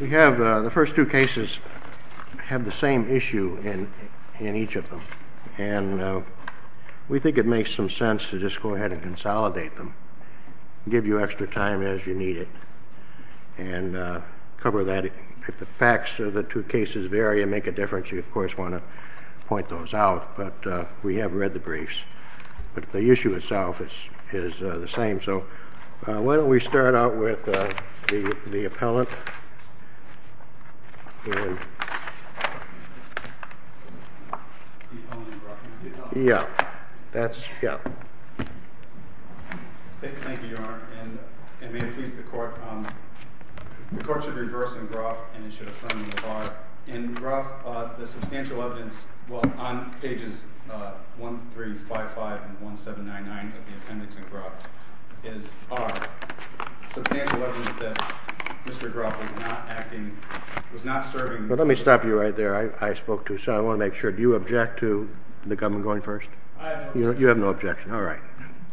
The first two cases have the same issue in each of them, and we think it makes some sense to just go ahead and consolidate them, give you extra time as you need it, and cover that. If the facts of the two cases vary and make a difference, you, of course, want to point those out, but we have read the briefs, but the issue itself is the same. So why don't we start out with the appellant. The appellant in Groff. Yeah, that's, yeah. Thank you, Your Honor, and may it please the court, the court should reverse in Groff and it should affirm the bar. In Groff, the substantial evidence, well, on pages 1355 and 1799 of the appendix in Groff, is, are substantial evidence that Mr. Groff was not acting, was not serving. Well, let me stop you right there. I spoke to, so I want to make sure, do you object to the government going first? I have no objection. You have no objection, all right.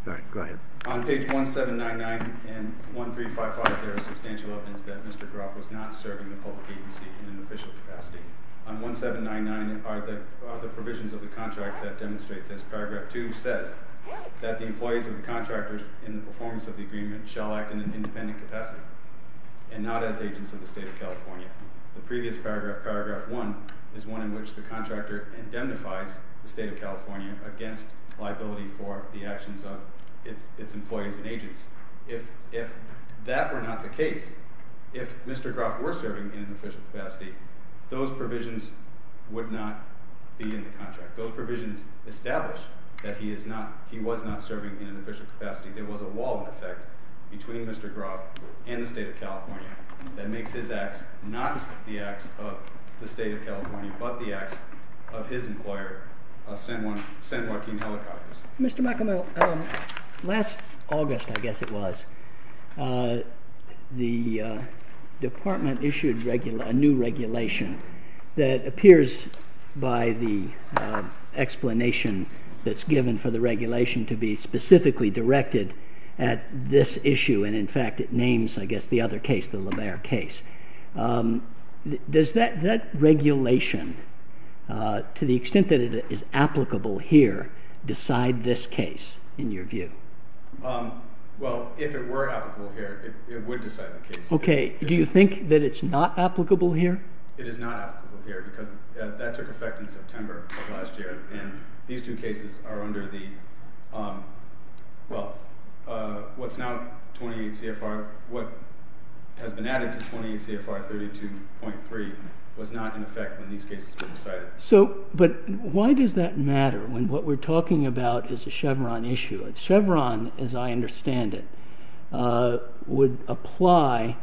All right, go ahead. On page 1799 and 1355, there is substantial evidence that Mr. Groff was not serving the public agency in an official capacity. On 1799 are the provisions of the contract that demonstrate this. That the employees of the contractors in the performance of the agreement shall act in an independent capacity. And not as agents of the state of California. The previous paragraph, paragraph one, is one in which the contractor indemnifies the state of California against liability for the actions of its employees and agents. If that were not the case, if Mr. Groff were serving in an official capacity, those provisions would not be in the contract. Those provisions establish that he is not, he was not serving in an official capacity. There was a wall, in effect, between Mr. Groff and the state of California that makes his acts not the acts of the state of California, but the acts of his employer, San Joaquin Helicopters. Mr. McAmel, last August, I guess it was, the department issued a new regulation that appears by the explanation that's given for the regulation to be specifically directed at this issue. And in fact, it names, I guess, the other case, the LaBaer case. Does that regulation, to the extent that it is applicable here, decide this case, in your view? Well, if it were applicable here, it would decide the case. Okay, do you think that it's not applicable here? It is not applicable here, because that took effect in September of last year, and these two cases are under the, well, what's now 28 CFR, what has been added to 28 CFR 32.3 was not in effect when these cases were decided. So, but why does that matter when what we're talking about is a Chevron issue? Chevron, as I understand it, would apply,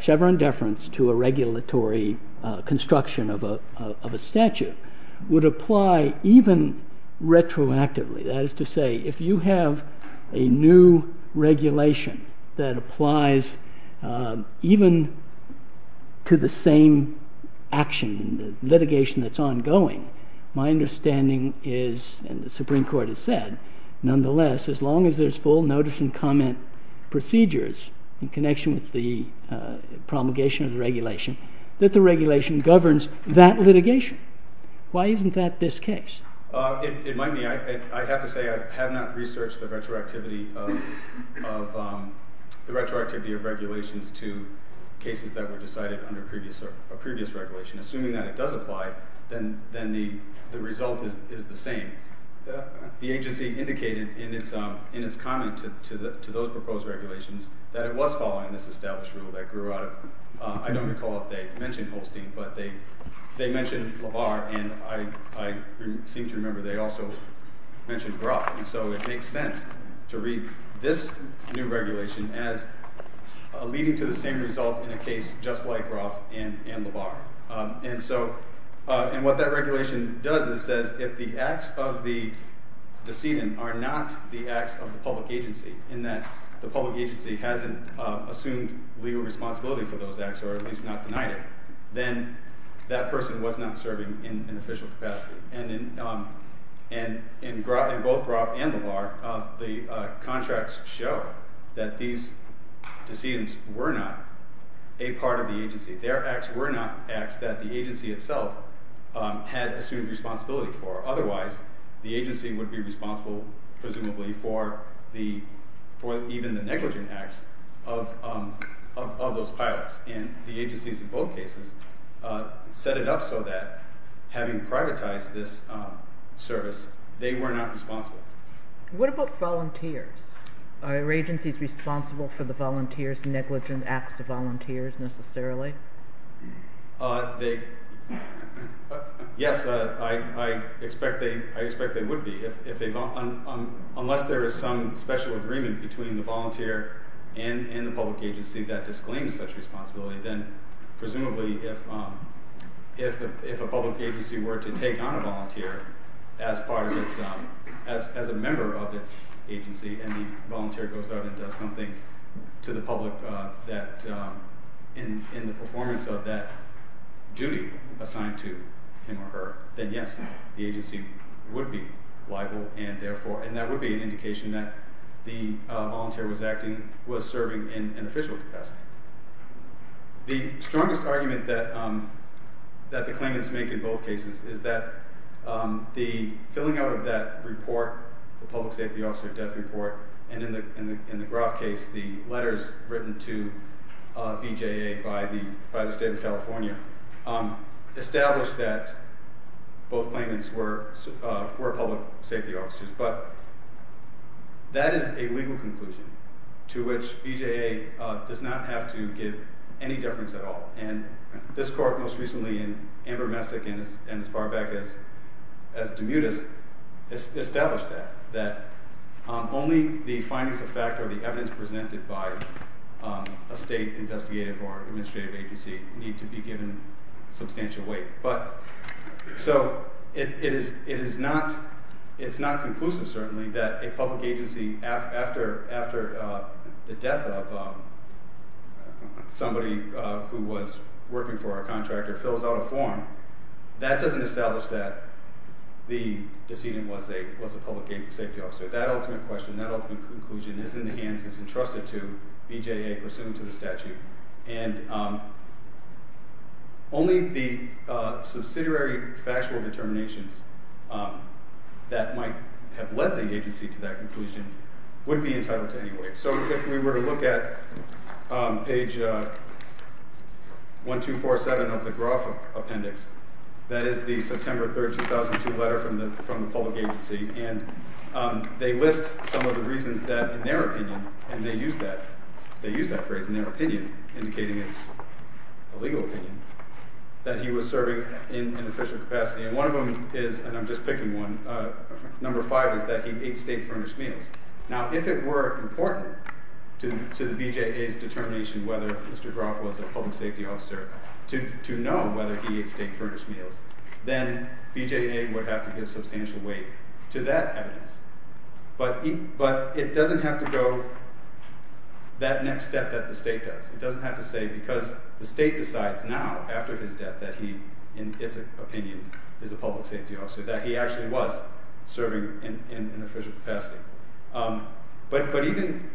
Chevron deference to a regulatory construction of a statute would apply even retroactively. That is to say, if you have a new regulation that applies even to the same action, litigation that's ongoing, my understanding is, and the Supreme Court has said, nonetheless, as long as there's full notice and comment procedures in connection with the promulgation of the regulation, that the regulation governs that litigation. Why isn't that this case? It might be, I have to say, I have not researched the retroactivity of regulations to cases that were decided under a previous regulation. Assuming that it does apply, then the result is the same. The agency indicated in its comment to those proposed regulations that it was following this established rule that grew out of, I don't recall if they mentioned Holstein, but they mentioned Labar, and I seem to remember they also mentioned Groff. And so it makes sense to read this new regulation as leading to the same result in a case just like Groff and Labar. And so, and what that regulation does is says if the acts of the decedent are not the acts of the public agency, in that the public agency hasn't assumed legal responsibility for those acts, or at least not denied it, then that person was not serving in an official capacity. And in both Groff and Labar, the contracts show that these decedents were not a part of the acts that the agency itself had assumed responsibility for. Otherwise, the agency would be responsible, presumably, for the, for even the negligent acts of those pilots. And the agencies in both cases set it up so that having privatized this service, they were not responsible. What about volunteers? Are agencies responsible for the volunteers' negligent acts to volunteers necessarily? They, yes, I expect they would be. Unless there is some special agreement between the volunteer and the public agency that disclaims such responsibility, then presumably if a public agency were to take on a volunteer as part of its, as a member of its agency, and the volunteer goes out and does something to the public that, in the performance of that duty assigned to him or her, then yes, the agency would be liable, and therefore, and that would be an indication that the volunteer was acting, was serving in an official capacity. The strongest argument that the claimants make in both cases is that the filling out of that report, the public safety officer death report, and in the Groff case, the letters written to BJA by the, by the state of California, established that both claimants were, were public safety officers. But that is a legal conclusion to which BJA does not have to give any difference at all. And this court most recently in Amber Messick and as far back as, as Demutis, established that, that only the findings of fact or the evidence presented by a state investigative or administrative agency need to be given substantial weight. But, so, it is, it is not, it's not conclusive, certainly, that a public agency after, after the death of somebody who was working for a contractor fills out a form. That doesn't establish that the decedent was a, was a public safety officer. That ultimate question, that ultimate conclusion is in the hands, is entrusted to BJA pursuant to the statute. And only the subsidiary factual determinations that might have led the agency to that conclusion would be entitled to any weight. So, if we were to look at page 1247 of the Groff Appendix, that is the September 3rd, 2002 letter from the, from the public agency. And they list some of the reasons that, in their opinion, and they use that, they use that phrase, in their opinion, indicating it's a legal opinion, that he was serving in an official capacity. And one of them is, and I'm just picking one, number five is that he ate state-furnished meals. Now, if it were important to, to the BJA's determination whether Mr. Groff was a public safety officer, to, to know whether he ate state-furnished meals, then BJA would have to give substantial weight to that evidence. But he, but it doesn't have to go that next step that the state does. It doesn't have to say, because the state decides now, after his death, that he, in its opinion, is a public safety officer. That he actually was serving in, in an official capacity. But, but even,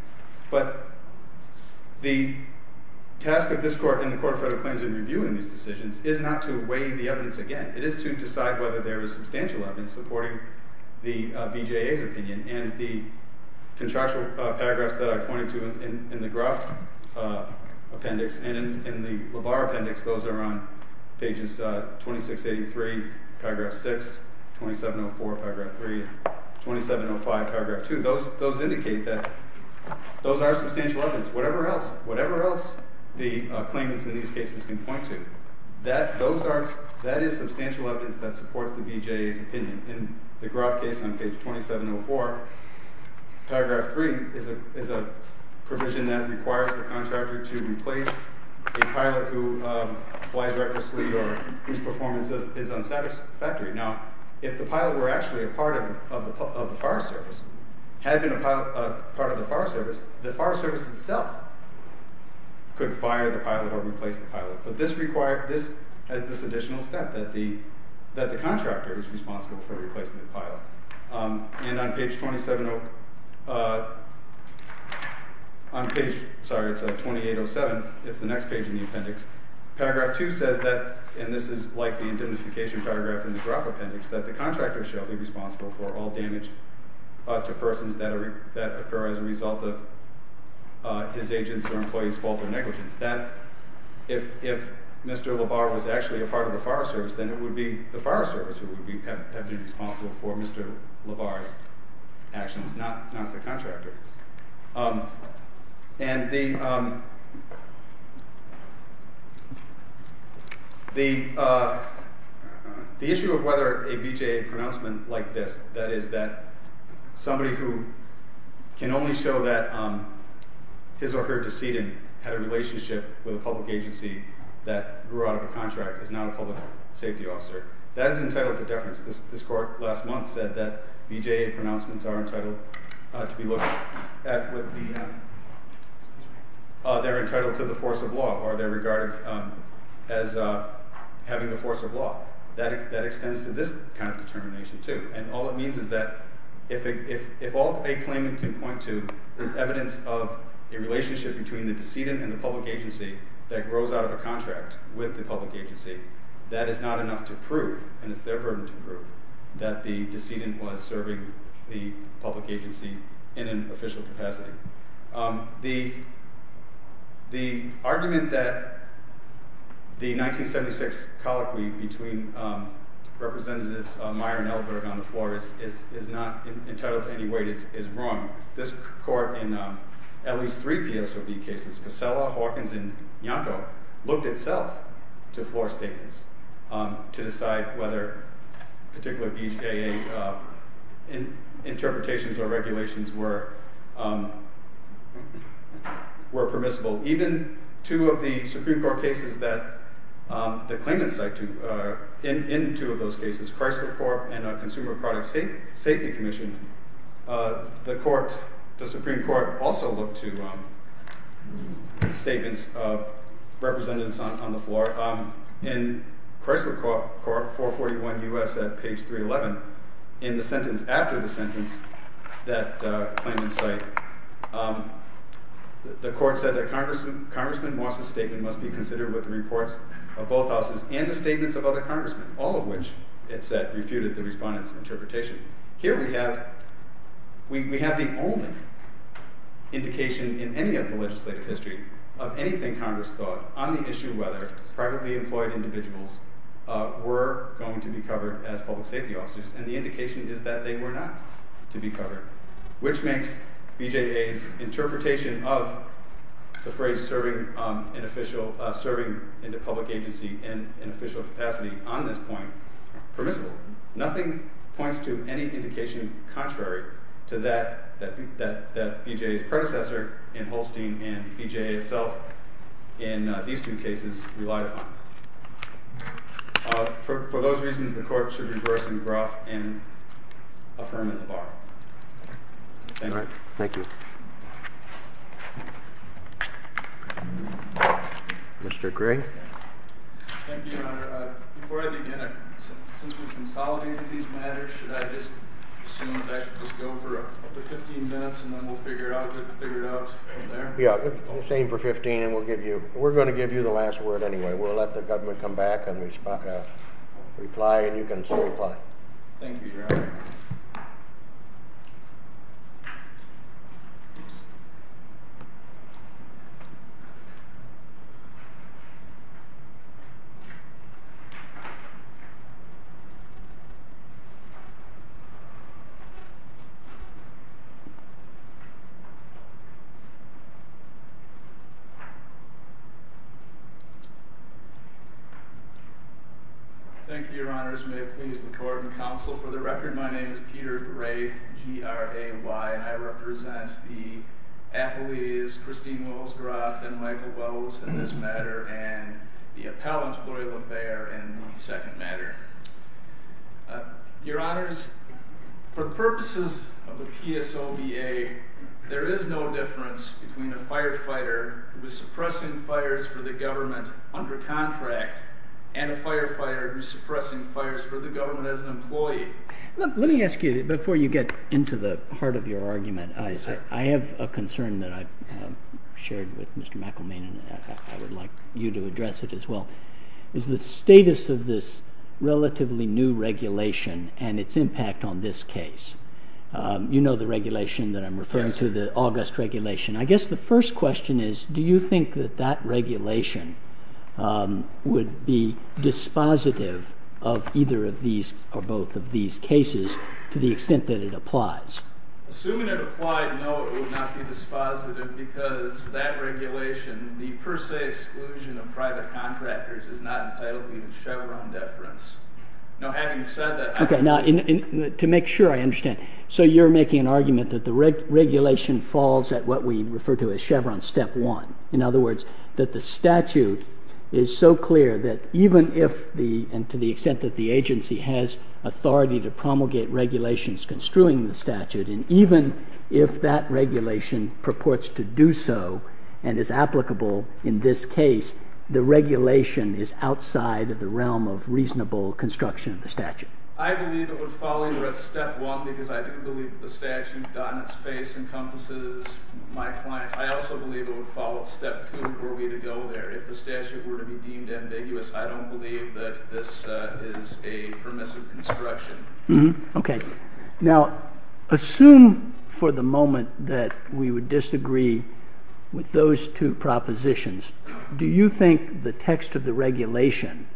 but the task of this Court and the Court of Federal Claims in reviewing these decisions is not to weigh the evidence again. It is to decide whether there is substantial evidence supporting the BJA's opinion. And the contractual paragraphs that I pointed to in, in, in the Groff Appendix and in, in the LaBar Appendix, those are on pages 2683, paragraph 6, 2704, paragraph 3, 2705, paragraph 2. Those, those indicate that those are substantial evidence. Whatever else, whatever else the claimants in these cases can point to, that, those are, that is substantial evidence that supports the BJA's opinion. In the Groff case on page 2704, paragraph 3 is a, is a provision that requires the contractor to replace a pilot who flies recklessly or whose performance is, is unsatisfactory. Now, if the pilot were actually a part of, of the, of the fire service, had been a pilot, a part of the fire service, the fire service itself could fire the pilot or replace the pilot. But this required, this has this additional step that the, that the contractor is responsible for replacing the pilot. And on page 270, on page, sorry, it's on 2807, it's the next page in the appendix. Paragraph 2 says that, and this is like the indemnification paragraph in the Groff Appendix, that the contractor shall be responsible for all damage to persons that are, that occur as a result of his agent's or employee's fault or negligence. That, if, if Mr. LaBar was actually a part of the fire service, then it would be the contractor's actions, not, not the contractor. And the, the, the issue of whether a BJA pronouncement like this, that is that somebody who can only show that his or her decedent had a relationship with a public agency that grew out of a contract is not a public safety officer. That is entitled to deference. This, this court last month said that BJA pronouncements are entitled to be looked at with the, they're entitled to the force of law or they're regarded as having the force of law. That, that extends to this kind of determination too. And all it means is that if, if, if all a claimant can point to is evidence of a relationship between the decedent and the public agency that grows out of a contract with the public agency, that is not enough to prove, and it's their burden to prove, that the decedent was serving the public agency in an official capacity. The, the argument that the 1976 colloquy between representatives Meyer and Ellsberg on the floor is, is, is not entitled to any weight is, is wrong. This court in at least three PSOB cases, Casella, Hawkins, and Yanko, looked itself to floor statements to decide whether particular BJA interpretations or regulations were, were permissible. Even two of the Supreme Court cases that the claimants cite to, in, in two of those cases, Chrysler Corp and Consumer Product Safety Commission, the court, the Supreme Court also looked to statements of representatives on, on the floor. In Chrysler Corp, 441 U.S. at page 311, in the sentence after the sentence that claimant cite, the court said that Congressman, Congressman Moss's statement must be considered with the reports of both houses and the statements of other congressmen. All of which it said refuted the respondent's interpretation. Here we have, we, we have the only indication in any of the legislative history of anything Congress thought on the issue whether privately employed individuals were going to be covered as public safety officers. And the indication is that they were not to be covered. Which makes BJA's interpretation of the phrase serving an official, serving in the capacity on this point permissible. Nothing points to any indication contrary to that, that, that, that BJA's predecessor in Holstein and BJA itself in these two cases relied upon. For, for those reasons the court should reverse and gruff and affirm in the bar. Thank you. Thank you, Mr. Greg. Thank you, Your Honor. Before I begin, since we've consolidated these matters, should I just assume that I should just go for up to 15 minutes and then we'll figure it out, get it figured out from there? Yeah, same for 15 and we'll give you, we're going to give you the last word anyway. We'll let the government come back and respond, reply and you can signify. Thank you, Your Honor. Yes. Thank you, Your Honors. May it please the court and counsel for the record. My name is Peter Gray, G-R-A-Y and I represent the appellees, Christine Wells-Groth and Michael Wells in this matter and the appellant, Gloria LaBaer in the second matter. Your Honors, for purposes of the PSOBA, there is no difference between a firefighter who is suppressing fires for the government under contract and a firefighter who's suppressing fires for the government as an employee. Let me ask you, before you get into the heart of your argument, I have a concern that I've shared with Mr. McElmaine and I would like you to address it as well, is the status of this relatively new regulation and its impact on this case. You know the regulation that I'm referring to, the August regulation. I guess the first question is, do you think that that regulation would be dispositive of either of these or both of these cases to the extent that it applies? Assuming it applied, no, it would not be dispositive because that regulation, the per se exclusion of private contractors, is not entitled to be in Chevron deference. Now having said that... Okay, now to make sure I understand, so you're making an argument that the regulation falls at what we refer to as Chevron step one. In other words, that the statute is so clear that even if the, and to the extent that the agency has authority to promulgate regulations construing the statute, and even if that regulation purports to do so and is applicable in this case, the regulation is outside of the realm of reasonable construction of the statute. I believe it would fall either at step one because I do believe that the statute, on its face, encompasses my clients. I also believe it would fall at step two were we to go there. If the statute were to be deemed ambiguous, I don't believe that this is a permissive construction. Okay, now assume for the moment that we would disagree with those two propositions, do you think the text of the regulation,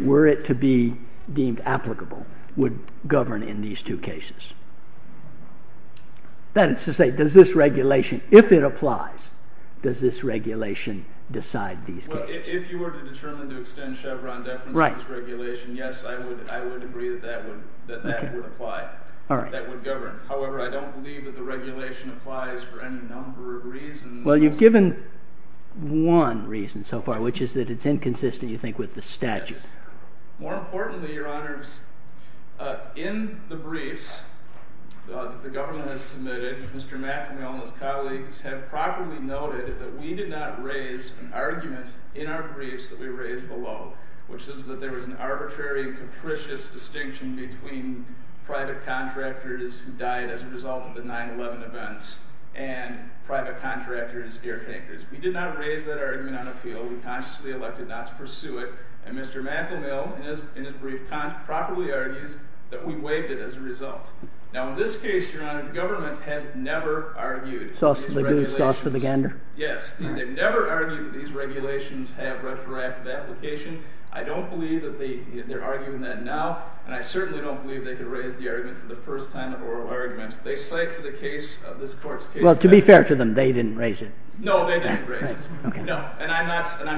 were it to be deemed applicable, would govern in these two cases? That is to say, does this regulation, if it applies, does this regulation decide these cases? If you were to determine to extend Chevron deference to this regulation, yes, I would agree that that would apply, that would govern. However, I don't believe that the regulation applies for any number of reasons. Well, you've given one reason so far, which is that it's inconsistent, you think, with the statute. More importantly, Your Honors, in the briefs that the government has submitted, Mr. Mack and all his colleagues have properly noted that we did not raise an argument in our briefs that we raised below, which is that there was an arbitrary and capricious distinction between private contractors who died as a result of the 9-11 events and private contractors, caretakers. We did not raise that argument on appeal. We consciously elected not to pursue it. And Mr. Mackel-Mill, in his brief, properly argues that we waived it as a result. Now, in this case, Your Honor, the government has never argued that these regulations have retroactive application. I don't believe that they're arguing that now, and I certainly don't believe they could raise the argument for the first time of oral argument. They cite to the case of this court's case. Well, to be fair to them, they didn't raise it. No, they didn't raise it. No, and I'm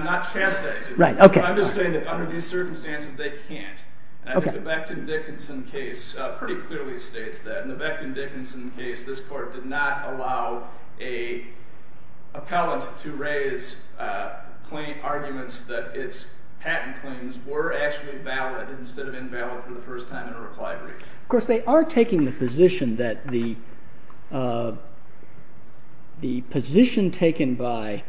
not chastising them. Right, OK. I'm just saying that under these circumstances, they can't. And I think the Becton-Dickinson case pretty clearly states that. In the Becton-Dickinson case, this court did not allow an appellant to raise arguments that its patent claims were actually valid instead of invalid for the first time in a replied brief. Of course, they are taking the position that the position taken by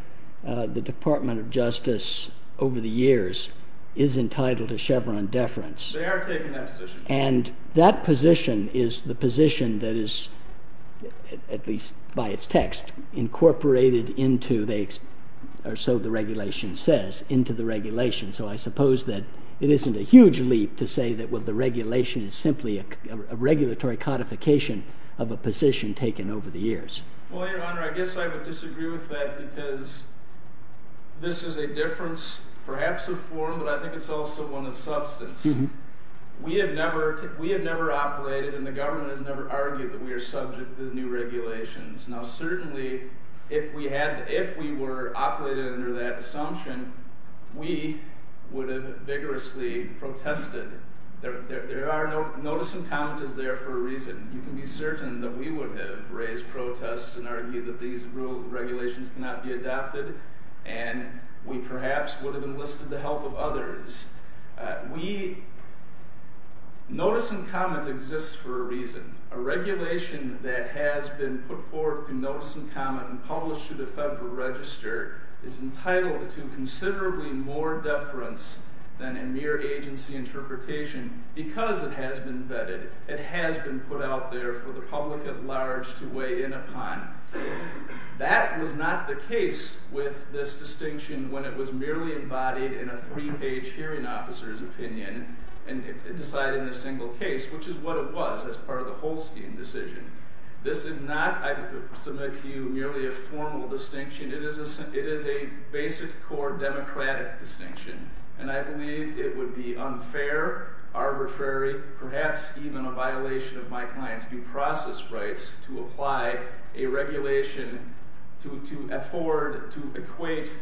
the Department of Justice over the years is entitled to Chevron deference. They are taking that position. And that position is the position that is, at least by its text, incorporated into, or so the regulation says, into the regulation. So I suppose that it isn't a huge leap to say that, well, the regulation is simply a regulatory codification of a position taken over the years. Well, Your Honor, I guess I would disagree with that because this is a difference, perhaps a form, but I think it's also one of substance. We have never operated, and the government has never argued that we are subject to the new regulations. Now, certainly, if we had, if we were operating under that assumption, we would have vigorously protested. There are, notice and comment is there for a reason. You can be certain that we would have raised protests and argued that these regulations cannot be adopted, and we perhaps would have enlisted the help of others. We, notice and comment exists for a reason. A regulation that has been put forward through notice and comment and published through the Federal Register is entitled to considerably more deference than a mere agency interpretation because it has been vetted. It has been put out there for the public at large to weigh in upon. That was not the case with this distinction when it was merely embodied in a three-page hearing officer's opinion and decided in a single case, which is what it was as part of the whole scheme decision. This is not, I submit to you, merely a formal distinction. It is a basic core democratic distinction, and I believe it would be unfair, arbitrary, perhaps even a violation of my client's due process rights to apply a regulation to afford to equate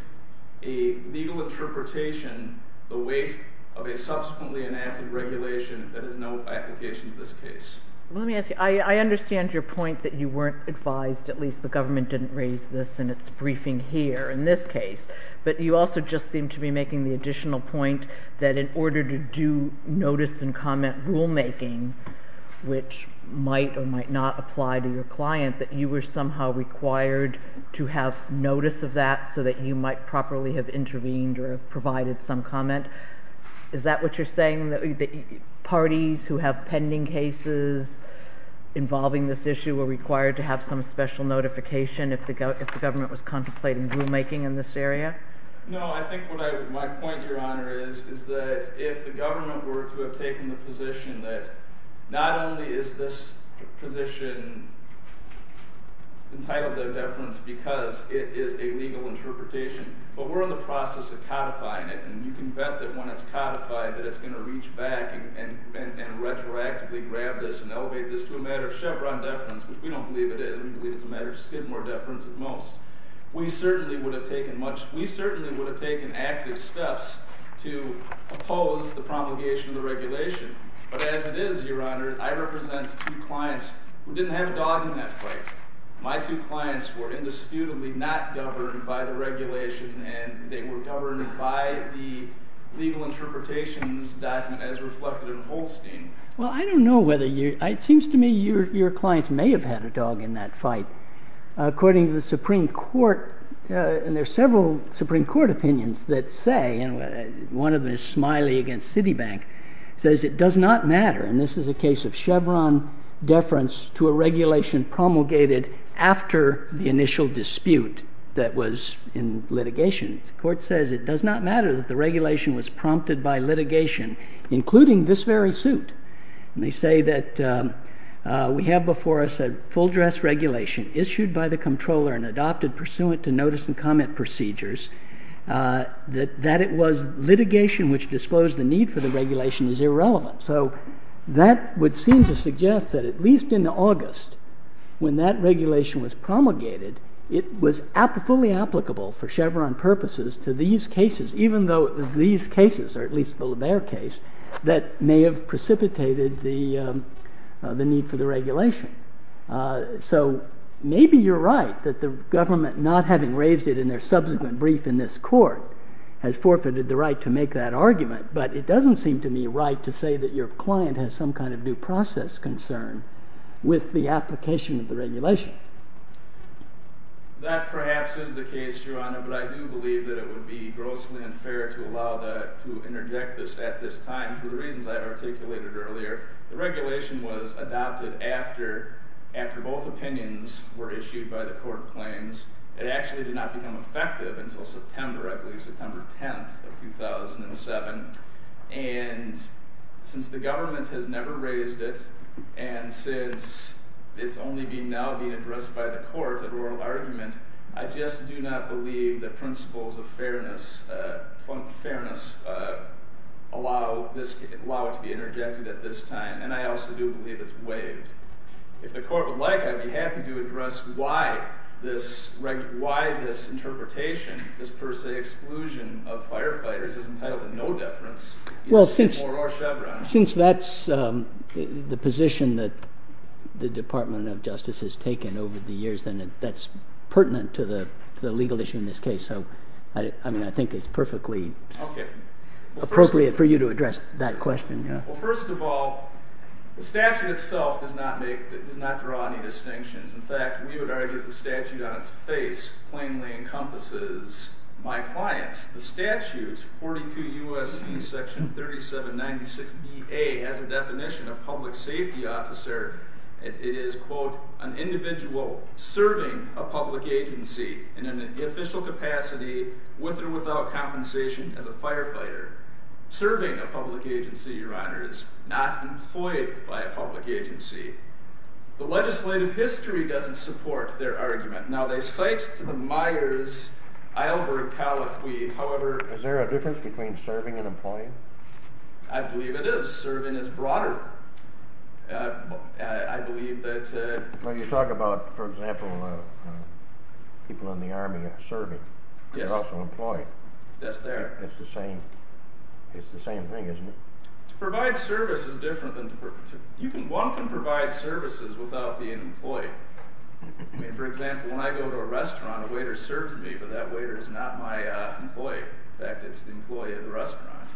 a legal interpretation, the weight of a subsequently enacted regulation that has no application to this case. Let me ask you, I understand your point that you weren't advised, at least the government didn't raise this in its briefing here in this case, but you also just seem to be making the additional point that in order to do notice and comment rulemaking, which might or might not apply to your client, that you were somehow required to have notice of that so that you might properly have intervened or provided some comment. Is that what you're saying, that parties who have pending cases involving this issue were required to have some special notification if the government was contemplating rulemaking in this area? No, I think my point, Your Honor, is that if the government were to have taken the position that not only is this position entitled to deference because it is a legal interpretation, but we're in the process of codifying it, and you can bet that when it's codified, that it's going to reach back and retroactively grab this and elevate this to a matter of Chevron deference, which we don't believe it is. We believe it's a matter of Skidmore deference at most. We certainly would have taken active steps to oppose the promulgation of the regulation, but as it is, Your Honor, I represent two clients who didn't have a dog in that fight. My two clients were indisputably not governed by the regulation, and they were governed by the legal interpretations document as reflected in Holstein. Well, I don't know whether you, it seems to me your clients may have had a dog in that fight. According to the Supreme Court, and there are several Supreme Court opinions that say, and one of them is Smiley against Citibank, says it does not matter, and this is a case of Chevron deference to a regulation promulgated after the initial dispute that was in litigation. The court says it does not matter that the regulation was prompted by litigation, including this very suit. They say that we have before us a full dress regulation issued by the controller and adopted pursuant to notice and comment procedures, that it was litigation which disclosed the need for the regulation is irrelevant. So that would seem to suggest that at least in August, when that regulation was promulgated, it was fully applicable for Chevron purposes to these cases, even though it was these cases, or at least the LaBear case, that may have precipitated the need for the regulation. So maybe you're right that the government, not having raised it in their subsequent brief in this court, has forfeited the right to make that argument, but it doesn't seem to be right to say that your client has some kind of due process concern with the application of the regulation. That perhaps is the case, Your Honor, but I do believe that it would be grossly unfair to allow to interject this at this time for the reasons I articulated earlier. The regulation was adopted after both opinions were issued by the court claims. It actually did not become effective until September, I believe September 10th of 2007, and since the government has never raised it, and since it's only now being addressed by the court at oral argument, I just do not believe the principles of fairness, plump fairness, allow it to be interjected at this time, and I also do believe it's waived. If the court would like, I'd be happy to address why this interpretation, this per se exclusion of firefighters is entitled to no deference. Since that's the position that the Department of Justice has taken over the years, then that's pertinent to the legal issue in this case. So, I mean, I think it's perfectly appropriate for you to address that question, Your Honor. Well, first of all, the statute itself does not draw any distinctions. In fact, we would argue that the statute on its face plainly encompasses my clients, the statute, 42 U.S.C. section 3796 B.A., has a definition of public safety officer. It is, quote, an individual serving a public agency in an official capacity with or without compensation as a firefighter. Serving a public agency, Your Honor, is not employed by a public agency. The legislative history doesn't support their argument. Now, they cite to the Myers, Eilbert, Callow, Quaid. However... Is there a difference between serving and employing? I believe it is. Serving is broader. I believe that... Well, you talk about, for example, people in the army serving. They're also employed. Yes, they are. It's the same. It's the same thing, isn't it? To provide service is different than to... One can provide services without being employed. I mean, for example, when I go to a restaurant, a waiter serves me, but that waiter is not my employee. In fact, it's the employee of the restaurant.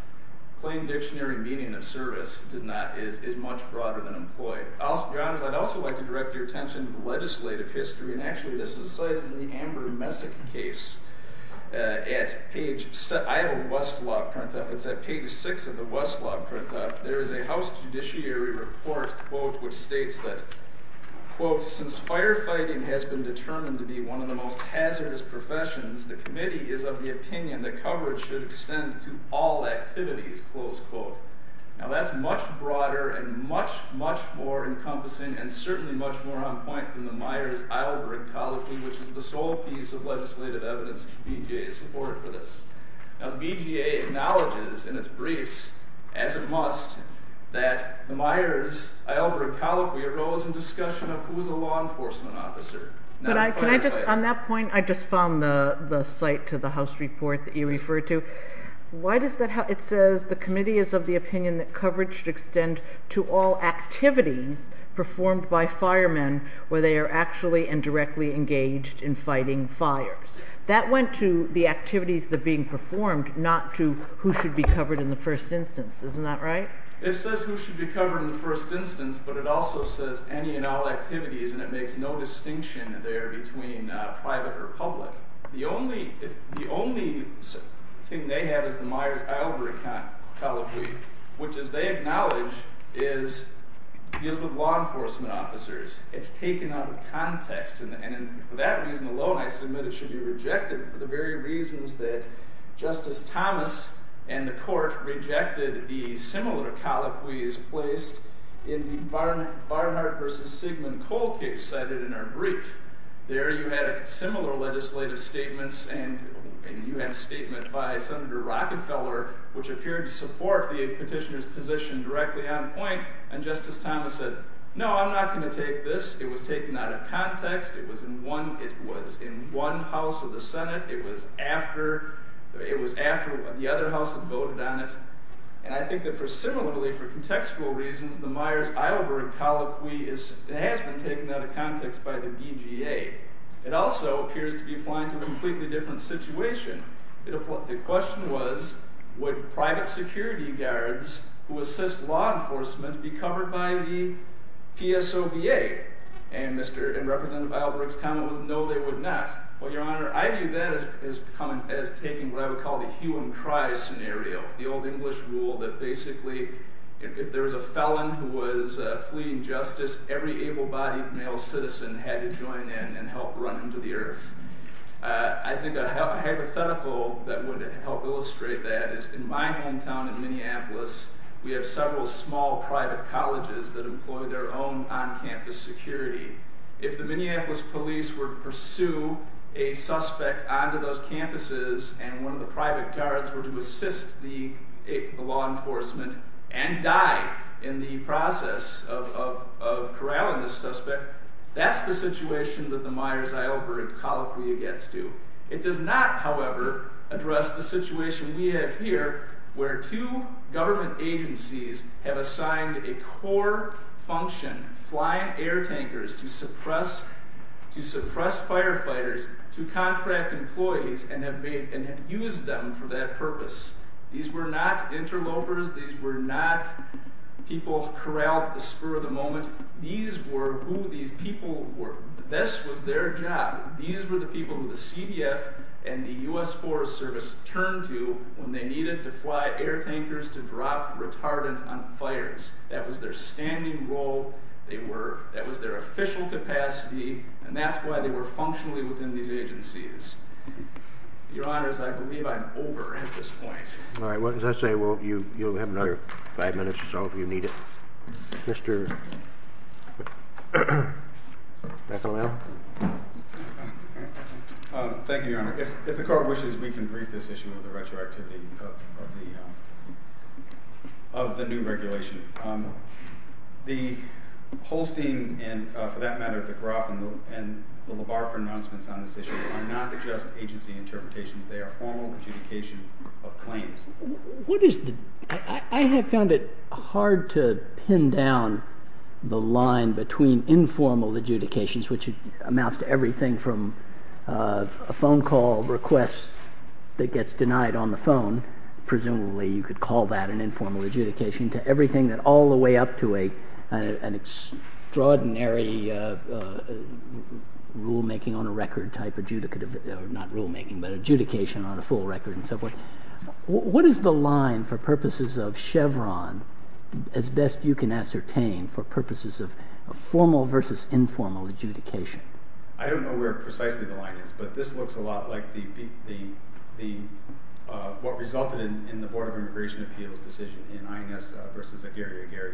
Claimed dictionary meaning of service is much broader than employed. Your Honor, I'd also like to direct your attention to the legislative history. And actually, this is cited in the Amber Messick case at page... I have a Westlaw printup. It's at page six of the Westlaw printup. There is a House Judiciary report, quote, which states that, quote, since firefighting has been determined to be one of the most hazardous professions, the committee is of the opinion that coverage should extend to all activities, close quote. Now, that's much broader and much, much more encompassing, and certainly much more on point than the Myers-Eilberg colloquy, which is the sole piece of legislative evidence BJA support for this. Now, BJA acknowledges in its briefs, as it must, that the Myers-Eilberg colloquy arose in discussion of who was a law enforcement officer. Now, the firefighter... Can I just... On that point, I just found the site to the House report that you referred to. Why does that... It says the committee is of the opinion that coverage should extend to all activities performed by firemen where they are actually and directly engaged in fighting fires. That went to the activities that are being performed, not to who should be covered in the first instance. Isn't that right? It says who should be covered in the first instance, but it also says any and all activities, and it makes no distinction there between private or public. The only thing they have is the Myers-Eilberg colloquy, which, as they acknowledge, deals with law enforcement officers. It's taken out of context, and for that reason alone, I submit it should be rejected for the very reasons that the Myers-Eilberg colloquy is placed in the Barnhart versus Sigmund Kohl case cited in our brief. There, you had similar legislative statements, and you had a statement by Senator Rockefeller, which appeared to support the petitioner's position directly on point, and Justice Thomas said, no, I'm not going to take this. It was taken out of context. It was in one... It was in one house of the Senate. It was after... It was after the other house had voted on it, and I think that for... Similarly, for contextual reasons, the Myers-Eilberg colloquy has been taken out of context by the BGA. It also appears to be applying to a completely different situation. The question was, would private security guards who assist law enforcement be covered by the PSOBA? And Mr. and Representative Eilberg's comment was, no, they would not. Well, Your Honor, I view that as becoming... As taking what I would call the hue and cry scenario, the old English rule that basically, if there was a felon who was fleeing justice, every able-bodied male citizen had to join in and help run him to the earth. I think a hypothetical that would help illustrate that is, in my hometown in Minneapolis, we have several small private colleges that employ their own on-campus security. If the Minneapolis police were to pursue a suspect onto those campuses, and one of the private guards were to assist the law enforcement and die in the process of corralling the suspect, that's the situation that the Myers-Eilberg colloquy gets to. It does not, however, address the situation we have here, where two government agencies have assigned a core function, flying air tankers to suppress firefighters, to contract employees and have used them for that purpose. These were not interlopers. These were not people corralled at the spur of the moment. These were who these people were. This was their job. These were the people who the CDF and the U.S. Forest Service turned to when they needed to fly air tankers to drop retardants on fires. That was their standing role. That was their official capacity, and that's why they were functionally within these agencies. Your honors, I believe I'm over at this point. All right. What does that say? Well, you'll have another five minutes or so if you need it. Mr. McAlellan? Thank you, your honor. If the court wishes, we can brief this issue of the retroactivity of the new regulation. The Holstein and, for that matter, the Groff and the LaBarbera announcements on this issue are not just agency interpretations. They are formal adjudication of claims. I have found it hard to pin down the line between informal adjudications, which amounts to everything from a phone call request that gets denied on the phone, presumably you could call that an informal adjudication, to everything that all the way up to an extraordinary rulemaking on a record type adjudication on a full record and so forth. What is the line, for purposes of Chevron, as best you can ascertain for purposes of formal versus informal adjudication? I don't know where precisely the line is, but this looks a lot like what resulted in the Board of Immigration Appeals decision in INS versus Aguirre-Aguirre.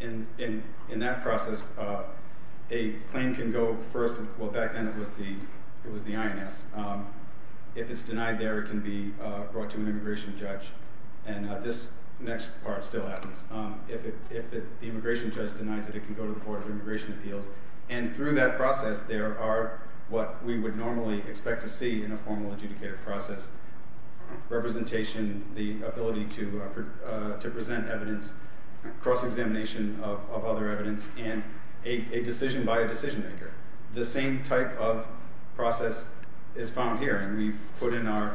In that process, a claim can go first, well, back then it was the INS. If it's denied there, it can be brought to an immigration judge. This next part still happens. If the immigration judge denies it, it can go to the Board of Immigration Appeals. Through that process, there are what we would normally expect to see in a formal adjudicated process, representation, the ability to present evidence, cross-examination of other evidence, and a decision by a decision maker. The same type of process is found here, and we've put in the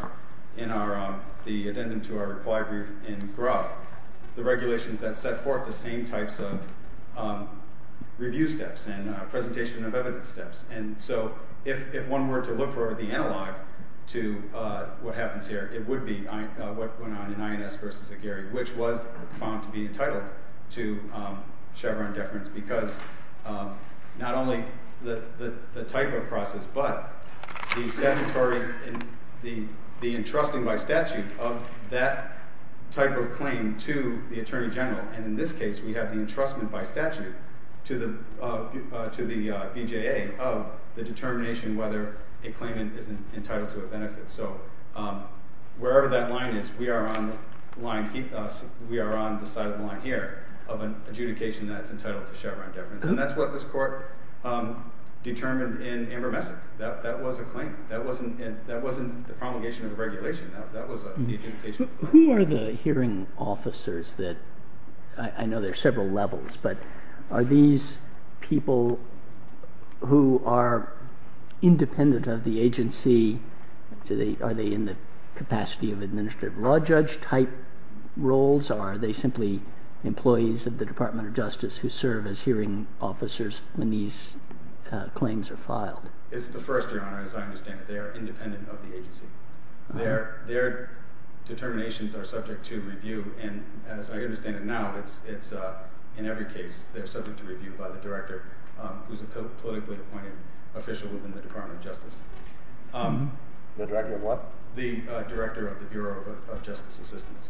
addendum to our reply brief in GRUV, the regulations that set forth the same types of review steps and presentation of evidence steps. If one were to look for the analog to what happens here, it would be what went on in INS versus Aguirre-Aguirre, which was found to be entitled to Chevron deference because not only the type of process, but the entrusting by statute of that type of claim to the Attorney determination whether a claimant is entitled to a benefit. Wherever that line is, we are on the side of the line here of an adjudication that's entitled to Chevron deference. That's what this court determined in Amber Messick. That was a claim. That wasn't the promulgation of the regulation. That was the adjudication. Who are the hearing officers that, I know there are several levels, but are these people who are independent of the agency, are they in the capacity of administrative law judge type roles, or are they simply employees of the Department of Justice who serve as hearing officers when these claims are filed? It's the first, Your Honor, as I understand it. They are independent of the agency. Their determinations are subject to review, and as I understand it now, in every case, they're subject to review by the director who's a politically appointed official within the Department of Justice. The director of what? The director of the Bureau of Justice Assistance,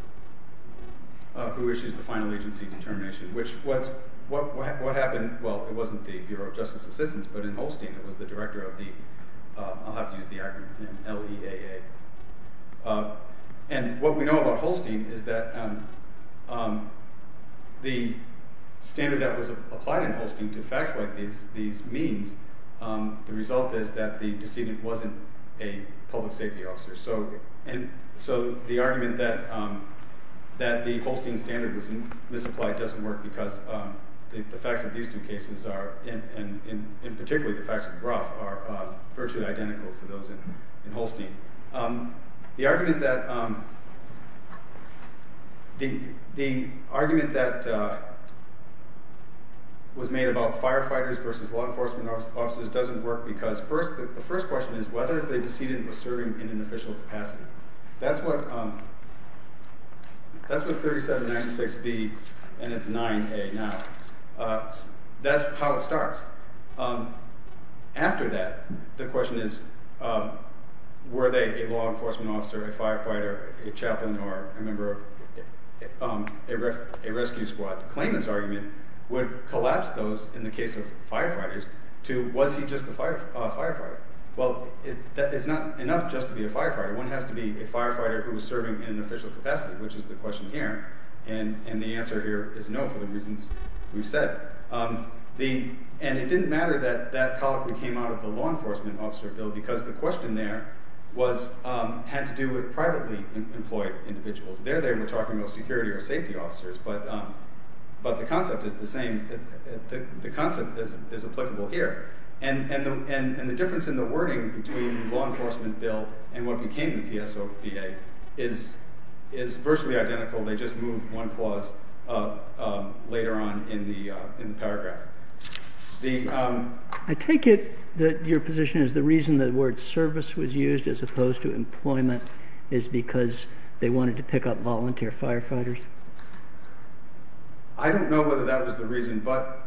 who issues the final agency determination, which what happened, well, it wasn't the Bureau of Justice Assistance, but in Holstein, it And what we know about Holstein is that the standard that was applied in Holstein to facts like these means, the result is that the decedent wasn't a public safety officer. So the argument that the Holstein standard was misapplied doesn't work because the facts of these two cases are, and particularly the facts of Groff, are virtually identical to those in Holstein. The argument that was made about firefighters versus law enforcement officers doesn't work because the first question is whether the decedent was serving in an official capacity. That's what 3796B and it's 9A now. That's how it starts. After that, the question is, were they a law enforcement officer, a firefighter, a chaplain, or a member of a rescue squad? Klayman's argument would collapse those in the case of firefighters to, was he just a firefighter? Well, it's not enough just to be a firefighter. One has to be a firefighter who was serving in an official capacity, which is the question here, and the answer here is no for the reasons we've said. The, and it didn't matter that that column came out of the law enforcement officer bill because the question there was, had to do with privately employed individuals. There they were talking about security or safety officers, but the concept is the same. The concept is applicable here, and the difference in the wording between the law enforcement bill and what became the PSOPA is virtually identical. They just moved one clause later on in the paragraph. I take it that your position is the reason the word service was used as opposed to employment is because they wanted to pick up volunteer firefighters. I don't know whether that was the reason, but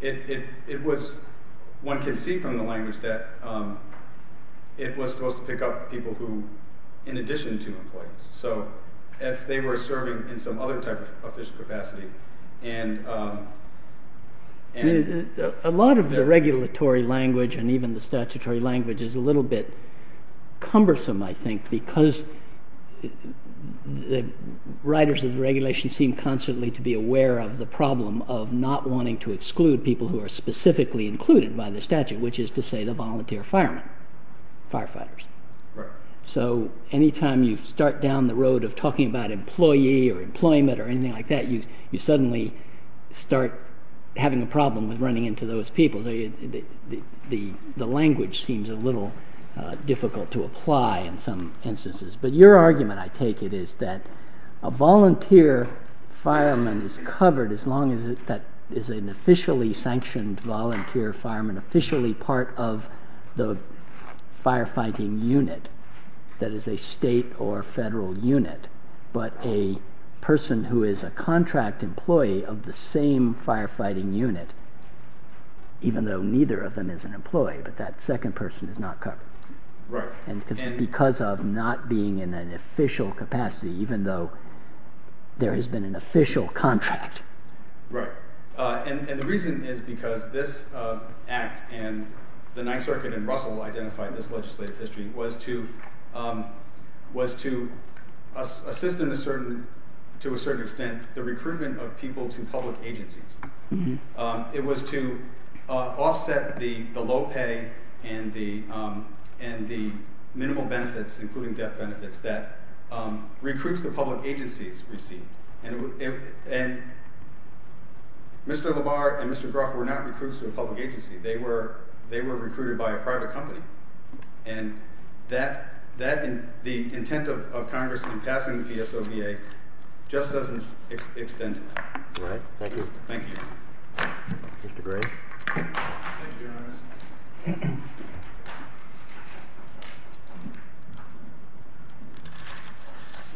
it was, one can see from the language that it was supposed to pick up people who, in addition to employees. So if they were serving in some other type of official capacity and. A lot of the regulatory language and even the statutory language is a little bit cumbersome, I think, because the writers of regulation seem constantly to be aware of the problem of not wanting to exclude people who are specifically included by the statute, which is to say the volunteer firemen, firefighters. So anytime you start down the road of talking about employee or employment or anything like that, you suddenly start having a problem with running into those people. The language seems a little difficult to apply in some instances, but your argument, I take it, is that a volunteer fireman is covered as long as that is an officially sanctioned fireman, officially part of the firefighting unit, that is a state or federal unit, but a person who is a contract employee of the same firefighting unit, even though neither of them is an employee, but that second person is not covered. And because of not being in an official capacity, even though there has been an official contract. Right. And the reason is because this act and the Ninth Circuit and Russell identified this legislative history was to assist in a certain, to a certain extent, the recruitment of people to public agencies. It was to offset the low pay and the minimal benefits, including death Mr. Labar and Mr. Gruff were not recruits to a public agency. They were, they were recruited by a private company and that, that the intent of Congress in passing the PSOVA just doesn't extend to that. Right. Thank you. Thank you. Mr. Gray. Thank you, Your Honor.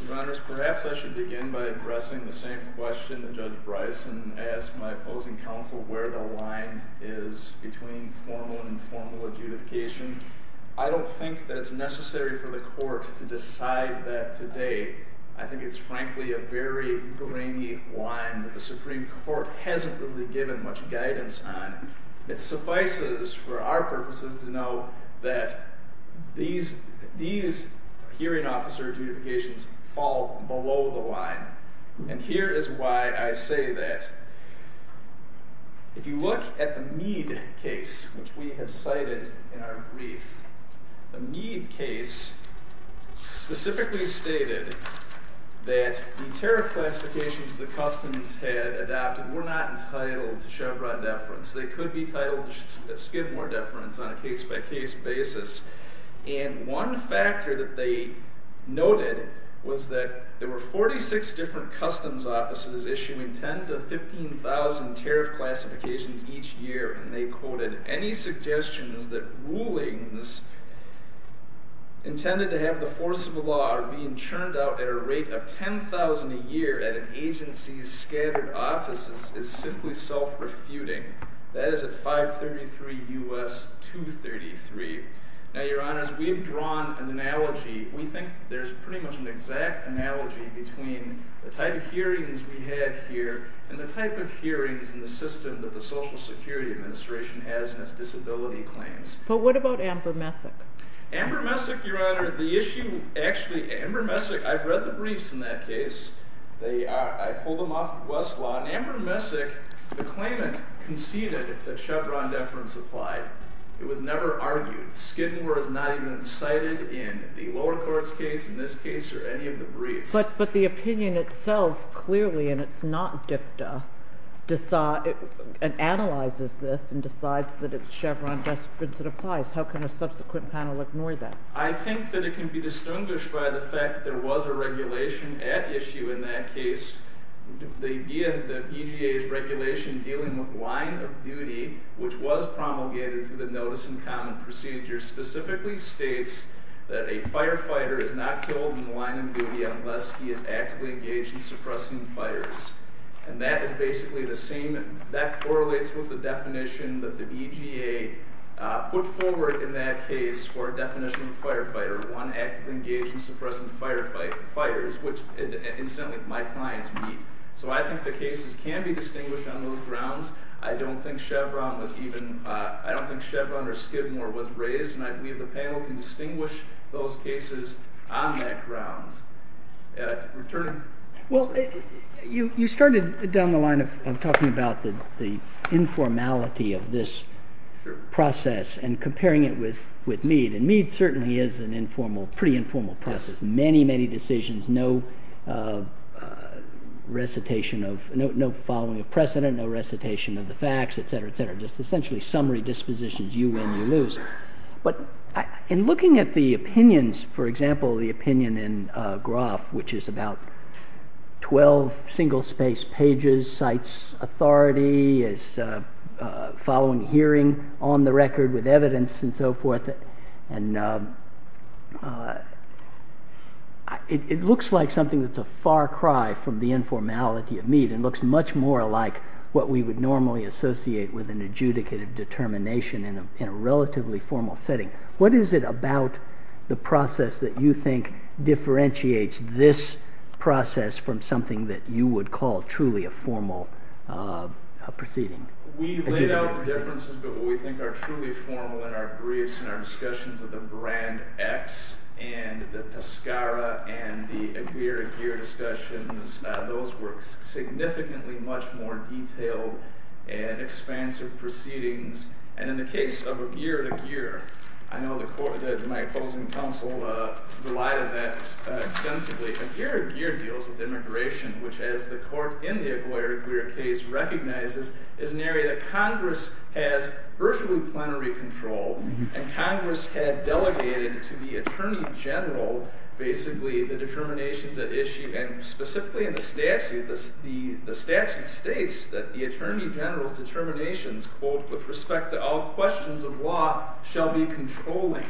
Your Honors, perhaps I should begin by addressing the same question that Judge Bryson asked my opposing counsel, where the line is between formal and informal adjudication. I don't think that it's necessary for the court to decide that today. I think it's frankly, a very grainy line that the Supreme Court hasn't really given much guidance on. It suffices for our purposes to know that these, these hearing officer adjudications fall below the line. And here is why I say that. If you look at the Meade case, which we had cited in our brief, the Meade case specifically stated that the tariff classifications the customs had adopted were not entitled to Chevron deference. They could be titled Skidmore deference on a case by case basis. And one factor that they noted was that there were 46 different customs offices issuing 10 to 15,000 tariff classifications each year. And they quoted any suggestions that rulings intended to have the force of a law being churned out at a rate of 10,000 a year at an agency's scattered offices is simply self-refuting. That is at 533 U.S. 233. Now, Your Honors, we've drawn an analogy. We think there's pretty much an exact analogy between the type of hearings we had here and the type of hearings in the system that the social security administration has in its disability claims. But what about Amber Messick? Amber Messick, Your Honor, the issue actually, Amber Messick, I've read the briefs in that case. They are, I pulled them off Westlaw and Amber Messick, the claimant conceded that Chevron deference applied. It was never argued. Skidmore is not even cited in the lower courts case in this case or any of the briefs. But, but the opinion itself clearly, and it's not DFDA, decides and analyzes this and decides that it's Chevron deference that applies. How can a subsequent panel ignore that? I think that it can be distinguished by the fact that there was a regulation at issue in that case. The idea that EGA's regulation dealing with line of duty, which was promulgated through the notice in common procedure, specifically states that a firefighter is not killed in the line of duty unless he is actively engaged in suppressing fires. And that is basically the same, that correlates with the definition that the EGA put forward in that case for a definition of firefighter, one actively engaged in suppressing firefighters, which incidentally my clients meet. So I think the cases can be distinguished on those grounds. I don't think Chevron was even, I don't think Chevron or Skidmore was raised. And I believe the panel can distinguish those cases on that grounds and return. Well, you, you started down the line of talking about the, the informality of this process and comparing it with, with Meade and Meade certainly is an informal, pretty informal process. Many, many decisions, no recitation of no, no following of precedent, no recitation of the facts, et cetera, et cetera, just essentially summary dispositions. You win, you lose. But in looking at the opinions, for example, the opinion in Groff, which is about 12 single space pages, cites authority as following hearing on the record with evidence and so forth. And it looks like something that's a far cry from the informality of Meade and looks much more alike what we would normally associate with an adjudicative determination in a, in a relatively formal setting. What is it about the process that you think differentiates this process from something that you would call truly a formal proceeding? We laid out the differences, but what we think are truly formal in our briefs and our discussions of the brand X and the Pescara and the Aguirre-Aguirre discussions, those were significantly much more detailed and expansive proceedings. And in the case of Aguirre-Aguirre, I know the court, my opposing counsel, relied on that extensively. Aguirre-Aguirre deals with immigration, which as the court in the Aguirre-Aguirre case recognizes is an area that Congress has virtually plenary control and Congress had delegated to the attorney general, basically the determinations at issue and specifically in the statute states that the attorney general's determinations, quote, with respect to all questions of law shall be controlling.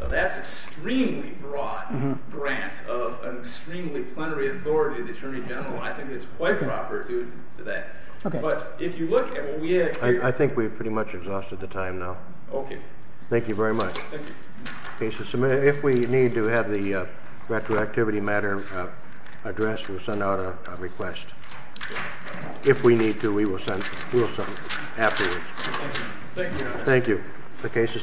Now that's extremely broad grant of an extremely plenary authority of the attorney general. I think it's quite proper to, to that. But if you look at what we had here. I think we've pretty much exhausted the time now. Okay. Thank you very much. Thank you. If we need to have the If we need to, we will send, we'll send it afterwards. Thank you. The case is submitted.